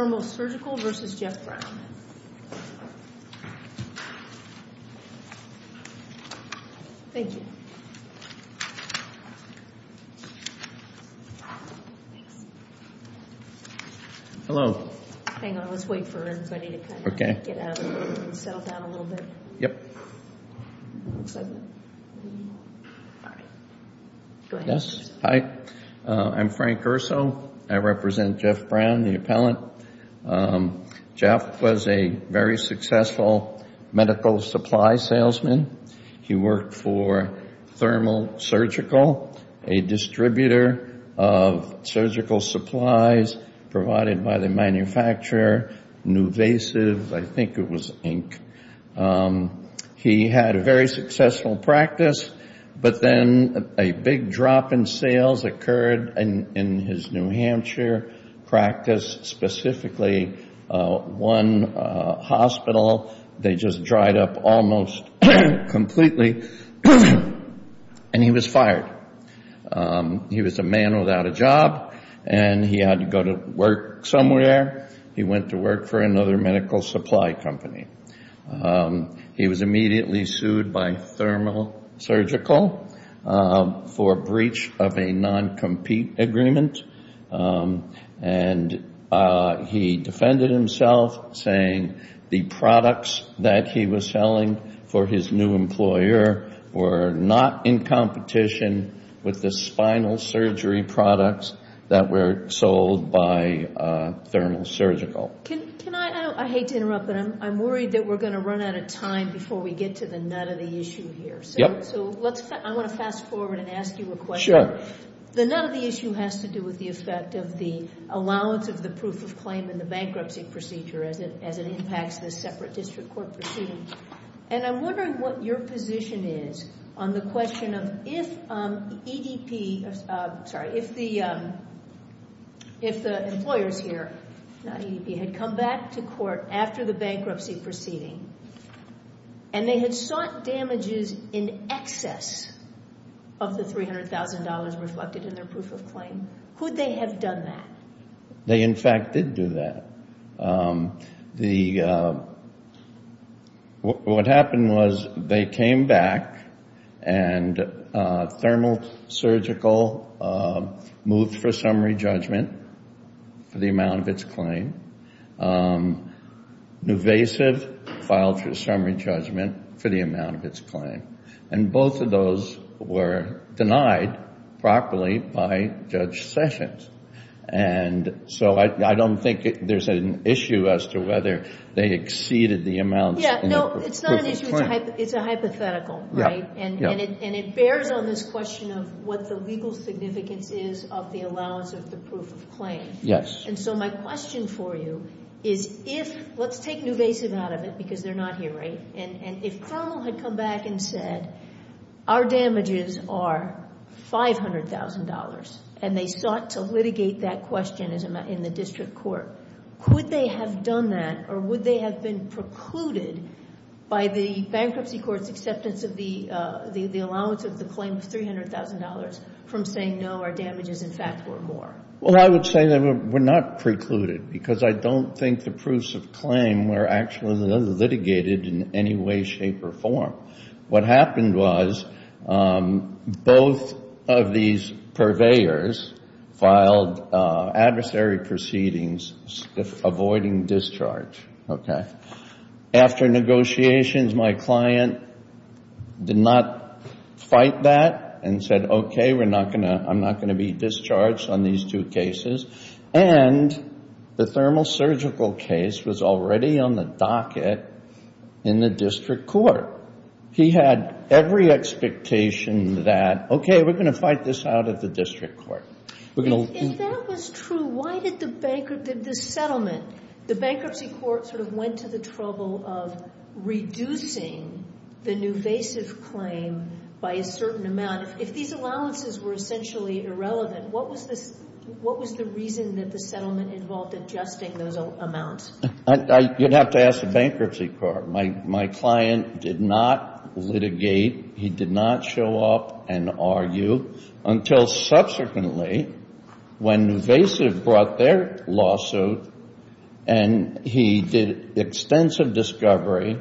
Formal Surgical, LLC, v. Jeff Brown Hi, I'm Frank Gersow. I represent Jeff Brown, the appellant. Jeff was a very successful medical supply salesman. He worked for Thermal Surgical, a distributor of surgical supplies provided by the manufacturer Nuvasiv, I think it was Inc. He had a very successful practice, but then a big drop in sales occurred in his New Hampshire practice, specifically one hospital. They just dried up almost completely, and he was fired. He was a man without a job, and he had to go to work somewhere. He went to work for another medical supply company. He was immediately sued by Thermal Surgical for breach of a non-compete agreement, and he defended himself, saying the products that he was selling for his new employer were not in competition with the spinal surgery products that were sold by Thermal Surgical. I hate to interrupt, but I'm worried that we're going to run out of time before we get to the nut of the issue here. I want to fast forward and ask you a question. The nut of the issue has to do with the effect of the allowance of the proof of claim in the bankruptcy procedure as it impacts the separate district court proceedings. I'm wondering what your position is on the question of if the employers here had come back to court after the bankruptcy proceeding, and they had sought damages in excess of the $300,000 reflected in their proof of claim, would they have done that? They, in fact, did do that. What happened was they came back and Thermal Surgical moved for summary judgment for the amount of its claim. Nuvasiv filed for summary judgment for the amount of its claim, and both of those were denied properly by Judge Sessions. And so I don't think there's an issue as to whether they exceeded the amount in the proof It's a hypothetical, right? And it bears on this question of what the legal significance is of the allowance of the proof of claim. Yes. And so my question for you is if, let's take Nuvasiv out of it because they're not here, right? And if Thermal had come back and said, our damages are $500,000, and they sought to litigate that question in the district court, could they have done that? Or would they have been precluded by the bankruptcy court's acceptance of the allowance of the claim of $300,000 from saying, no, our damages, in fact, were more? Well, I would say that we're not precluded because I don't think the proofs of claim were actually litigated in any way, shape, or form. What happened was both of these purveyors filed adversary proceedings avoiding discharge. After negotiations, my client did not fight that and said, okay, I'm not going to be discharged on these two cases. And the Thermal surgical case was already on the docket in the district court. He had every expectation that, okay, we're going to fight this out of the district court. If that was true, why did the settlement, the bankruptcy court sort of went to the trouble of reducing the Nuvasiv claim by a certain amount? If these allowances were essentially irrelevant, what was the reason that the settlement involved adjusting those amounts? You'd have to ask the bankruptcy court. My client did not litigate. He did not show up and argue until subsequently when Nuvasiv brought their lawsuit and he did extensive discovery,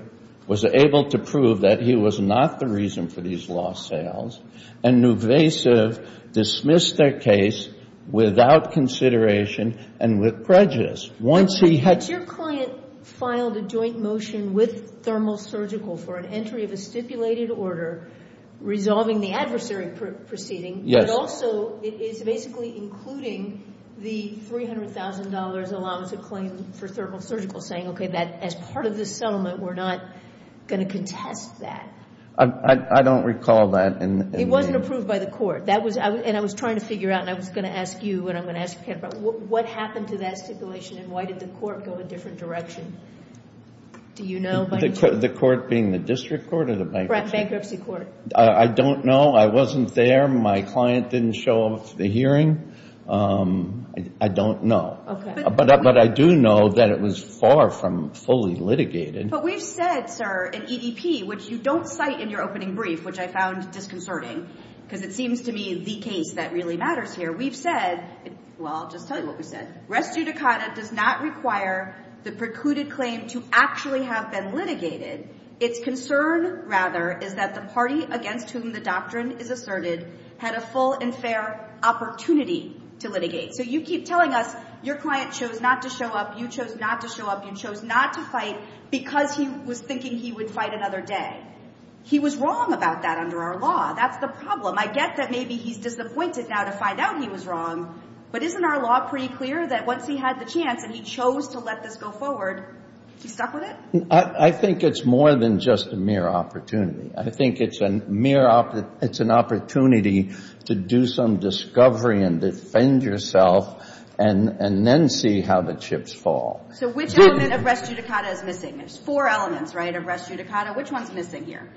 was able to prove that he was not the reason for these lost sales. And Nuvasiv dismissed their case without consideration and with prejudice. Once he had... Your client filed a joint motion with Thermal surgical for an entry of a stipulated order resolving the adversary proceeding. Yes. But also it's basically including the $300,000 allowance of claim for Thermal surgical saying, okay, that as part of the settlement, we're not going to contest that. I don't recall that. It wasn't approved by the court. And I was trying to figure out and I was going to ask you and I'm going to ask Ken about what happened to that stipulation and why did the court go a different direction? Do you know? The court being the district court or the bankruptcy court? I don't know. I wasn't there. My client didn't show up for the hearing. I don't know. But I do know that it was far from fully litigated. But we've said, sir, in EDP, which you don't cite in your opening brief, which I found disconcerting because it seems to me the case that really matters here. We've said, well, I'll just tell you what we said. Res judicata does not require the precluded claim to actually have been litigated. Its concern rather is that the party against whom the doctrine is asserted had a full and fair opportunity to litigate. So you keep telling us your client chose not to show up. You chose not to show up. You chose not to fight because he was thinking he would fight another day. He was wrong about that under our law. That's the problem. I get that maybe he's disappointed now to find out he was wrong. But isn't our law pretty clear that once he had the chance and he chose to let this go forward, he stuck with it? I think it's more than just a mere opportunity. I think it's an opportunity to do some discovery and defend yourself and then see how the chips fall. So which element of res judicata is missing? There's four elements, right, of res judicata. Which one's missing here?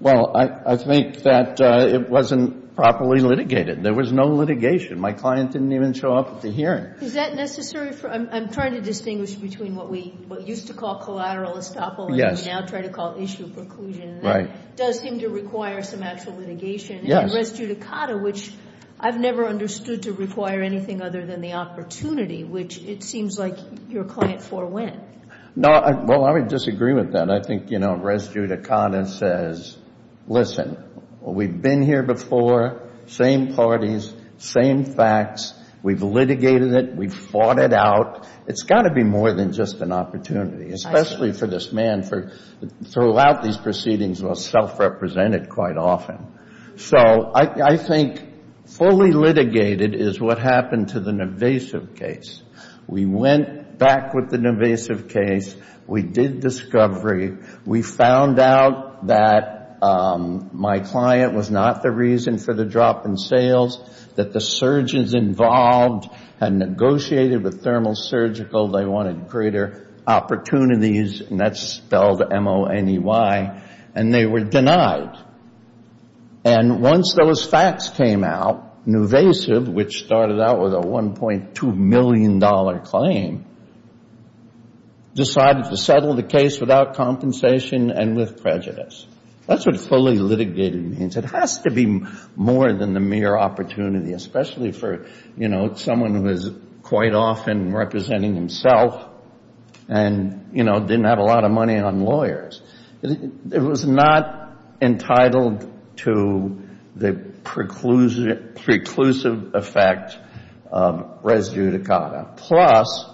Well, I think that it wasn't properly litigated. There was no litigation. My client didn't even show up at the hearing. Is that necessary? I'm trying to distinguish between what we used to call collateral estoppel and what we now try to call issue preclusion. Right. Does seem to require some actual litigation. Yes. And res judicata, which I've never understood to require anything other than the opportunity, which it seems like your client forewent. No. Well, I would disagree with that. I think, you know, res judicata says, listen, we've been here before, same parties, same facts. We've litigated it. We've fought it out. It's got to be more than just an opportunity, especially for this man to throw out these proceedings or self-represent it quite often. So I think fully litigated is what happened to the Navasiv case. We went back with the Navasiv case. We did discovery. We found out that my client was not the reason for the drop in sales, that the surgeons involved had negotiated with Thermal Surgical. They wanted greater opportunities, and that's spelled M-O-N-E-Y, and they were denied. And once those facts came out, Navasiv, which started out with a $1.2 million claim, decided to settle the case without compensation and with prejudice. That's what fully litigated means. It has to be more than the mere opportunity, especially for, you know, someone who is quite often representing himself and, you know, didn't have a lot of money on lawyers. It was not entitled to the preclusive effect of res judicata. Plus,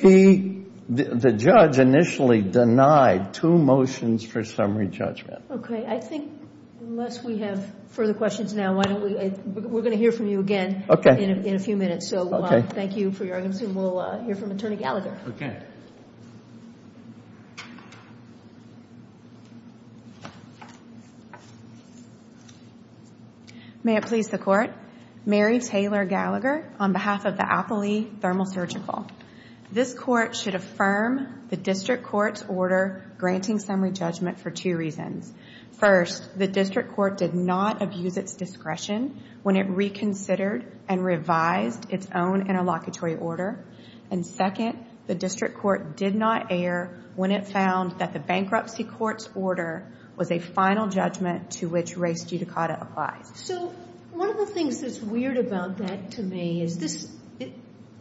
the judge initially denied two motions for summary judgment. Okay. I think unless we have further questions now, we're going to hear from you again in a few minutes. So thank you for your arguments, and we'll hear from Attorney Gallagher. Okay. May it please the Court. Mary Taylor Gallagher on behalf of the Appley Thermal Surgical. This Court should affirm the District Court's order granting summary judgment for two reasons. First, the District Court did not abuse its discretion when it reconsidered and revised its own interlocutory order. And second, the District Court did not err when it found that the bankruptcy court's order was a final judgment to which res judicata applies. So one of the things that's weird about that to me is this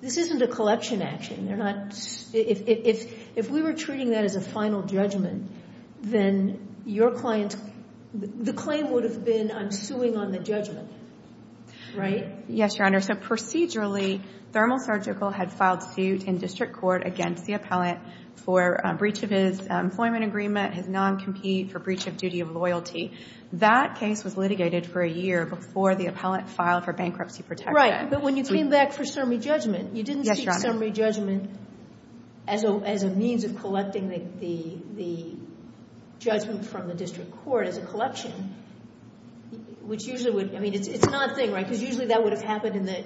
isn't a collection action. They're not, if we were treating that as a final judgment, then your client, the claim would have been, I'm suing on the judgment, right? Yes, Your Honor. So procedurally, Thermal Surgical had filed suit in District Court against the appellant for breach of his employment agreement, his non-compete for breach of duty of loyalty. That case was litigated for a year before the appellant filed for bankruptcy protection. But when you came back for summary judgment, you didn't see summary judgment as a means of collecting the judgment from the District Court as a collection, which usually would, I mean, it's not a thing, right? Because usually that would have happened in the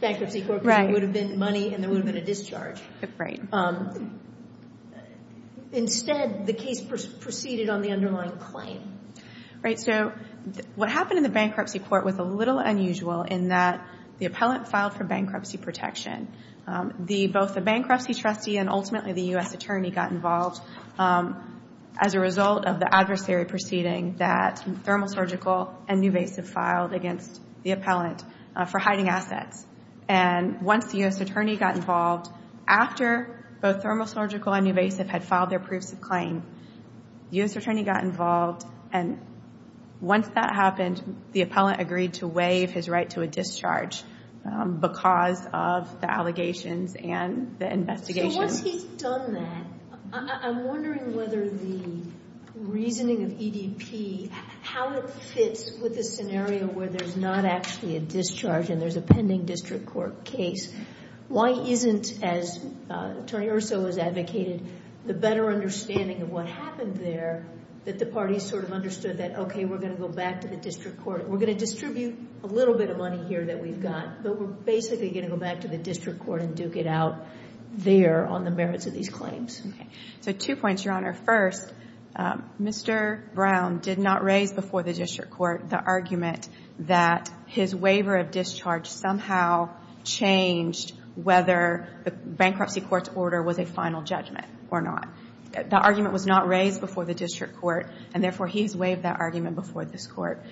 bankruptcy court case. It would have been money and there would have been a discharge. Right. Instead, the case proceeded on the underlying claim. So what happened in the bankruptcy court was a little unusual in that the appellant filed for bankruptcy protection. Both the bankruptcy trustee and ultimately the U.S. attorney got involved as a result of the adversary proceeding that Thermal Surgical and Nuvasiv filed against the appellant for hiding assets. And once the U.S. attorney got involved, after both Thermal Surgical and Nuvasiv had filed their proofs of claim, the U.S. attorney got involved. And once that happened, the appellant agreed to waive his right to a discharge because of the allegations and the investigation. So once he's done that, I'm wondering whether the reasoning of EDP, how it fits with a scenario where there's not actually a discharge and there's a pending District Court case, why isn't, as Attorney Urso has advocated, the better understanding of what happened there that the parties sort of understood that, okay, we're going to go back to the District Court. We're going to distribute a little bit of money here that we've got, but we're basically going to go back to the District Court and duke it out there on the merits of these claims. Okay. So two points, Your Honor. First, Mr. Brown did not raise before the District Court the argument that his waiver of discharge somehow changed whether the bankruptcy court's order was a final judgment or not. The argument was not raised before the District Court, and therefore, he's waived that argument before this Court.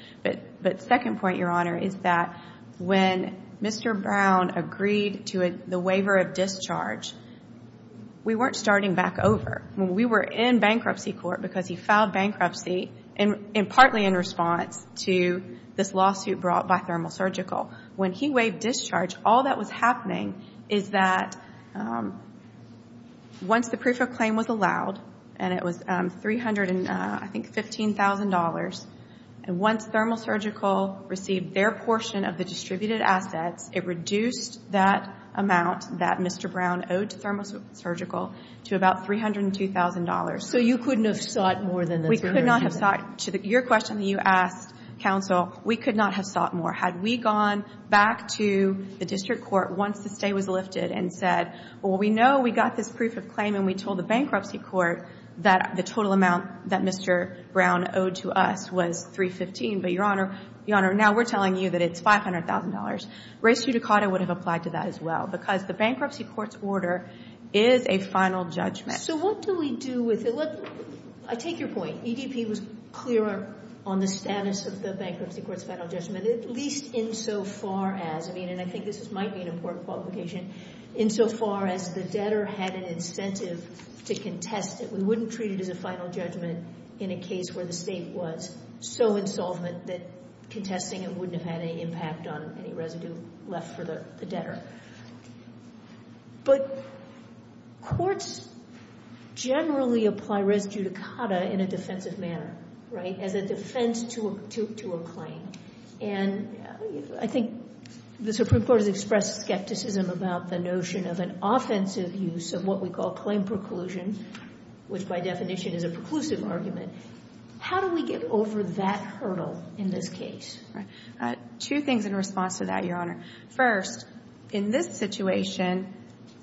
But second point, Your Honor, is that when Mr. Brown agreed to the waiver of discharge, we weren't starting back over. When we were in bankruptcy court, because he filed bankruptcy, and partly in response to this lawsuit brought by Thermal Surgical, when he waived discharge, all that was happening is that once the proof of claim was allowed, and it was $315,000, and once Thermal Surgical received their portion of the distributed assets, it reduced that amount that Mr. Brown owed to Thermal Surgical to about $302,000. So you couldn't have sought more than the $300,000? Your question that you asked, counsel, we could not have sought more. Had we gone back to the District Court once the stay was lifted and said, well, we know we got this proof of claim, and we told the bankruptcy court that the total amount that Mr. Brown owed to us was $315,000. But, Your Honor, now we're telling you that it's $500,000. Res judicata would have applied to that as well, because the bankruptcy court's order is a final judgment. So what do we do with it? I take your point. EDP was clear on the status of the bankruptcy court's final judgment, at least insofar as, I mean, and I think this might be an important qualification, insofar as the debtor had an incentive to contest it. We wouldn't treat it as a final judgment in a case where the state was so insolvent that contesting it wouldn't have had any impact on any residue left for the debtor. But courts generally apply res judicata in a defensive manner, right, as a defense to a claim. And I think the Supreme Court has expressed skepticism about the notion of an offensive use of what we call claim preclusion, which by definition is a preclusive argument. How do we get over that hurdle in this case? Two things in response to that, Your Honor. First, in this situation,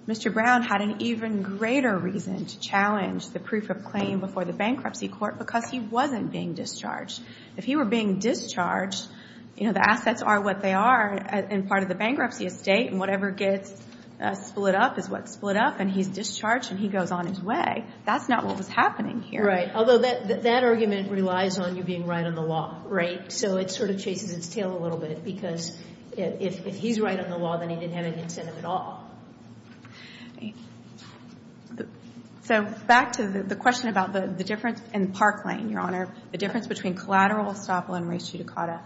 Mr. Brown had an even greater reason to challenge the proof of claim before the bankruptcy court because he wasn't being discharged. If he were being discharged, you know, the assets are what they are, and part of the bankruptcy estate, and whatever gets split up is what's split up, and he's discharged and he goes on his way. That's not what was happening here. Right. Although that argument relies on you being right on the law, right? So it sort of chases its tail a little bit because if he's right on the law, then he didn't have any incentive at all. So back to the question about the difference in Park Lane, Your Honor, the difference between collateral estoppel and res judicata.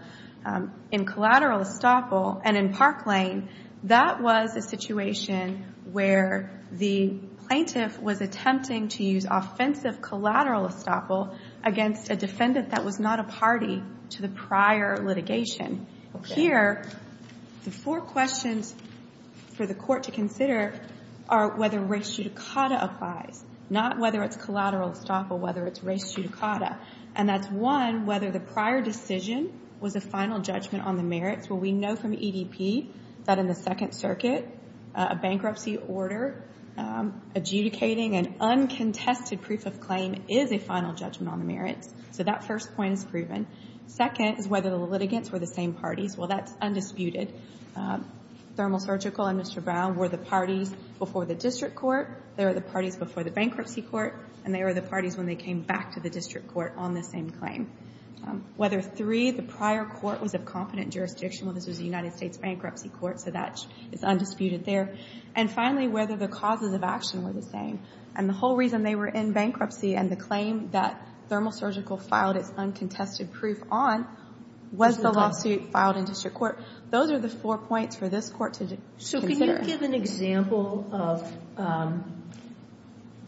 In collateral estoppel and in Park Lane, that was a situation where the plaintiff was attempting to use offensive collateral estoppel against a defendant that was not a party to the prior litigation. Here, the four questions for the court to consider are whether res judicata applies, not whether it's collateral estoppel, whether it's res judicata. And that's, one, whether the prior decision was a final judgment on the merits. Well, we know from EDP that in the Second Circuit, a bankruptcy order adjudicating an uncontested proof of claim is a final judgment on the merits. So that first point is proven. Second is whether the litigants were the same parties. Well, that's undisputed. Thermal Surgical and Mr. Brown were the parties before the district court. They were the parties before the bankruptcy court. And they were the parties when they came back to the district court on the same claim. Whether three, the prior court was of competent jurisdiction. Well, this was the United States Bankruptcy Court. So that is undisputed there. And finally, whether the causes of action were the same. And the whole reason they were in bankruptcy and the claim that Thermal Surgical filed its uncontested proof on was the lawsuit filed in district court. Those are the four points for this Court to consider. So can you give an example of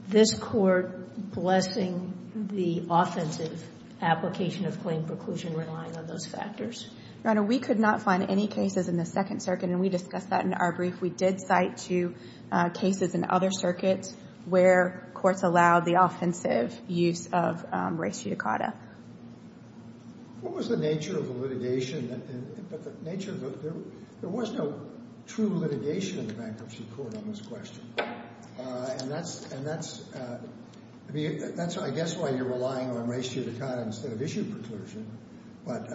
this Court blessing the offensive application of claim preclusion relying on those factors? Your Honor, we could not find any cases in the Second Circuit. And we discussed that in our brief. We did cite two cases in other circuits where courts allowed the offensive use of res judicata. What was the nature of the litigation? There was no true litigation in the Bankruptcy Court on this question. And that's, I guess, why you're relying on res judicata instead of issue preclusion. But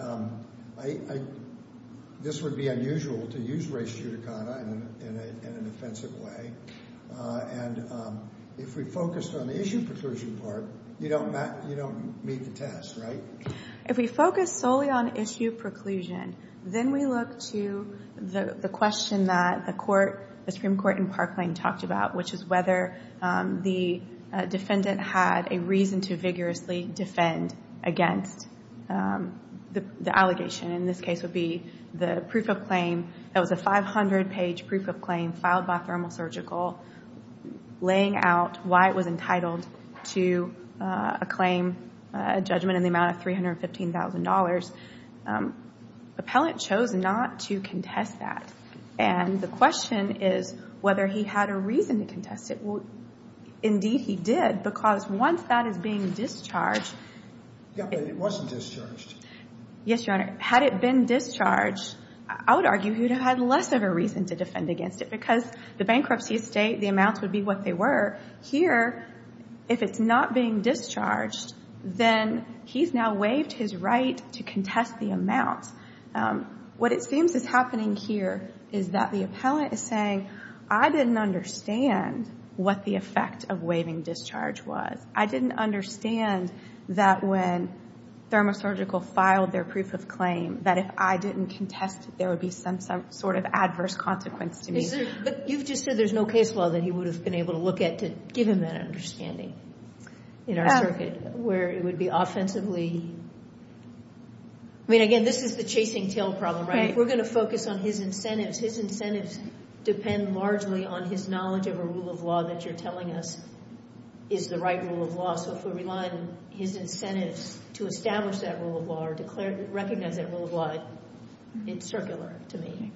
this would be unusual to use res judicata in an offensive way. And if we focused on the issue preclusion part, you don't meet the test, right? If we focus solely on issue preclusion, then we look to the question that the Supreme Court in Parkland talked about, which is whether the defendant had a reason to vigorously defend against the allegation. In this case, it would be the proof of claim. That was a 500-page proof of claim filed by Thermal Surgical, laying out why it was entitled to a claim, a judgment in the amount of $315,000. Appellant chose not to contest that. And the question is whether he had a reason to contest it. Indeed, he did. Because once that is being discharged... Yeah, but it wasn't discharged. Yes, Your Honor. Had it been discharged, I would argue he would have had less of a reason to defend against it. Because the bankruptcy estate, the amounts would be what they were. Here, if it's not being discharged, then he's now waived his right to contest the amount. What it seems is happening here is that the appellant is saying, I didn't understand what the effect of waiving discharge was. I didn't understand that when Thermal Surgical filed their proof of claim, that if I didn't contest it, there would be some sort of adverse consequence to me. But you've just said there's no case law that he would have been able to look at to give him that understanding in our circuit, where it would be offensively... I mean, again, this is the chasing tail problem, right? We're going to focus on his incentives. His incentives depend largely on his knowledge of a rule of law that you're telling us is the right rule of law. So if we rely on his incentives to establish that rule of law or recognize that rule of law, it's circular to me.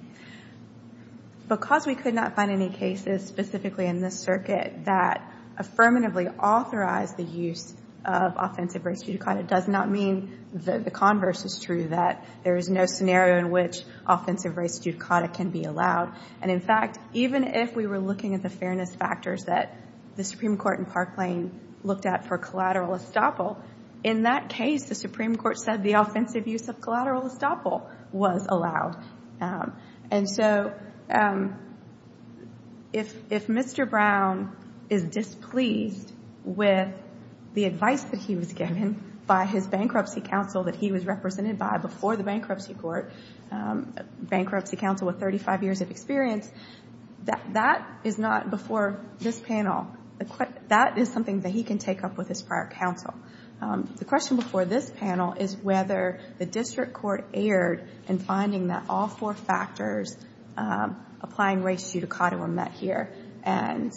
Because we could not find any cases specifically in this circuit that affirmatively authorized the use of offensive race judicata, it does not mean that the converse is true, that there is no scenario in which offensive race judicata can be allowed. And in fact, even if we were looking at the fairness factors that the Supreme Court in Parkland looked at for collateral estoppel, in that case, the Supreme Court said the offensive use of collateral estoppel was allowed. And so if Mr. Brown is displeased with the advice that he was given by his bankruptcy counsel that he was represented by before the bankruptcy court, bankruptcy counsel with 35 years of experience, that is not before this panel. That is something that he can take up with his prior counsel. The question before this panel is whether the district court erred in finding that all four factors applying race judicata were met here. And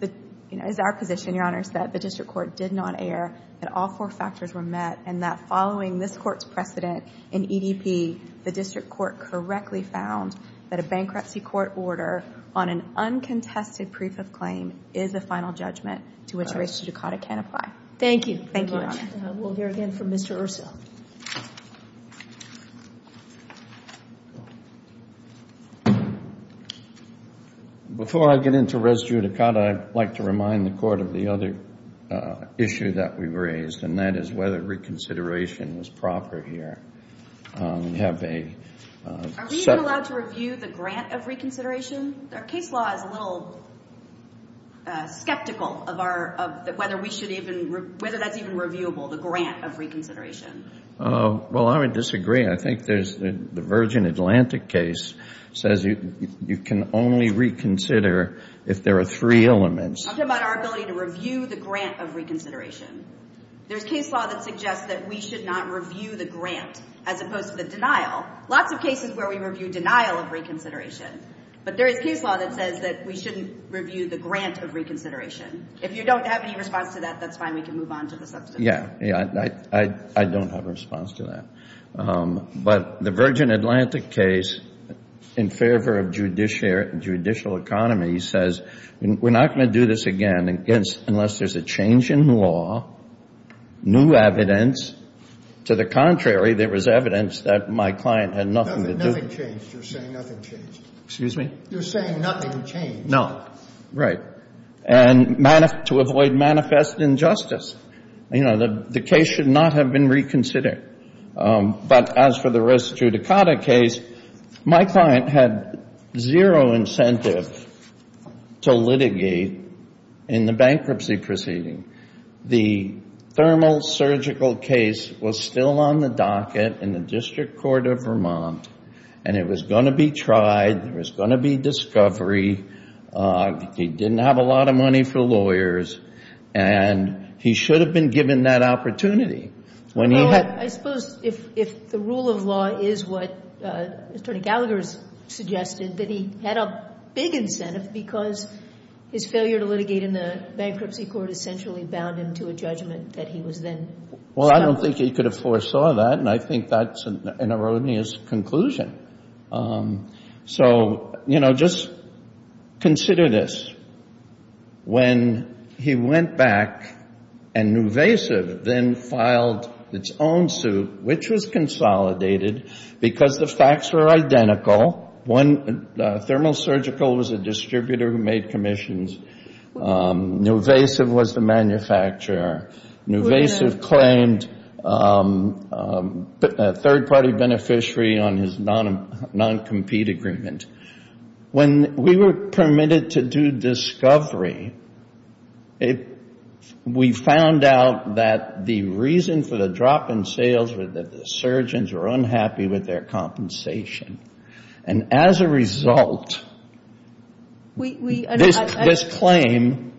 it is our position, Your Honors, that the district court did not err that all four factors were met and that following this court's precedent in EDP, the district court correctly found that a bankruptcy court order on an uncontested proof of claim is a final judgment to which race judicata can apply. Thank you. Thank you, Your Honor. We'll hear again from Mr. Urso. Before I get into race judicata, I'd like to remind the court of the other issue that we raised, and that is whether reconsideration was proper here. Are we even allowed to review the grant of reconsideration? Our case law is a little skeptical of whether that's even reviewable, the grant of reconsideration. Well, I would disagree. I think the Virgin Atlantic case says you can only reconsider if there are three elements. I'm talking about our ability to review the grant of reconsideration. There's case law that suggests that we should not review the grant as opposed to the denial. Lots of cases where we review denial of reconsideration, but there is case law that says that we shouldn't review the grant of reconsideration. If you don't have any response to that, that's fine. We can move on to the subsequent. Yeah, I don't have a response to that. But the Virgin Atlantic case, in favor of judicial economy, says we're not going to do this again unless there's a change in law, new evidence. To the contrary, there was evidence that my client had nothing to do. Nothing changed. You're saying nothing changed. Excuse me? You're saying nothing changed. No. Right. And to avoid manifest injustice. You know, the case should not have been reconsidered. But as for the Res Judicata case, my client had zero incentive to litigate in the bankruptcy proceeding. The thermal surgical case was still on the docket in the District Court of Vermont. And it was going to be tried. There was going to be discovery. He didn't have a lot of money for lawyers. And he should have been given that opportunity. Well, I suppose if the rule of law is what Attorney Gallagher suggested, that he had a big incentive because his failure to litigate in the bankruptcy court essentially bound him to a judgment that he was then stopped. Well, I don't think he could have foresaw that. And I think that's an erroneous conclusion. So, you know, just consider this. When he went back and Nuvasiv then filed its own suit, which was consolidated because the facts were identical. One, thermal surgical was a distributor who made commissions. Nuvasiv was the manufacturer. Nuvasiv claimed a third-party beneficiary on his non-compete agreement. When we were permitted to do discovery, we found out that the reason for the drop in sales were that the surgeons were unhappy with their compensation. And as a result, this claim...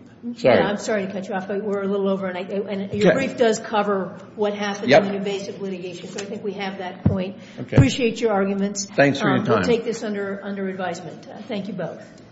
I'm sorry to cut you off, but we're a little over. And your brief does cover what happened in Nuvasiv litigation. So I think we have that point. Appreciate your arguments. Thanks for your time. Take this under advisement. Thank you both.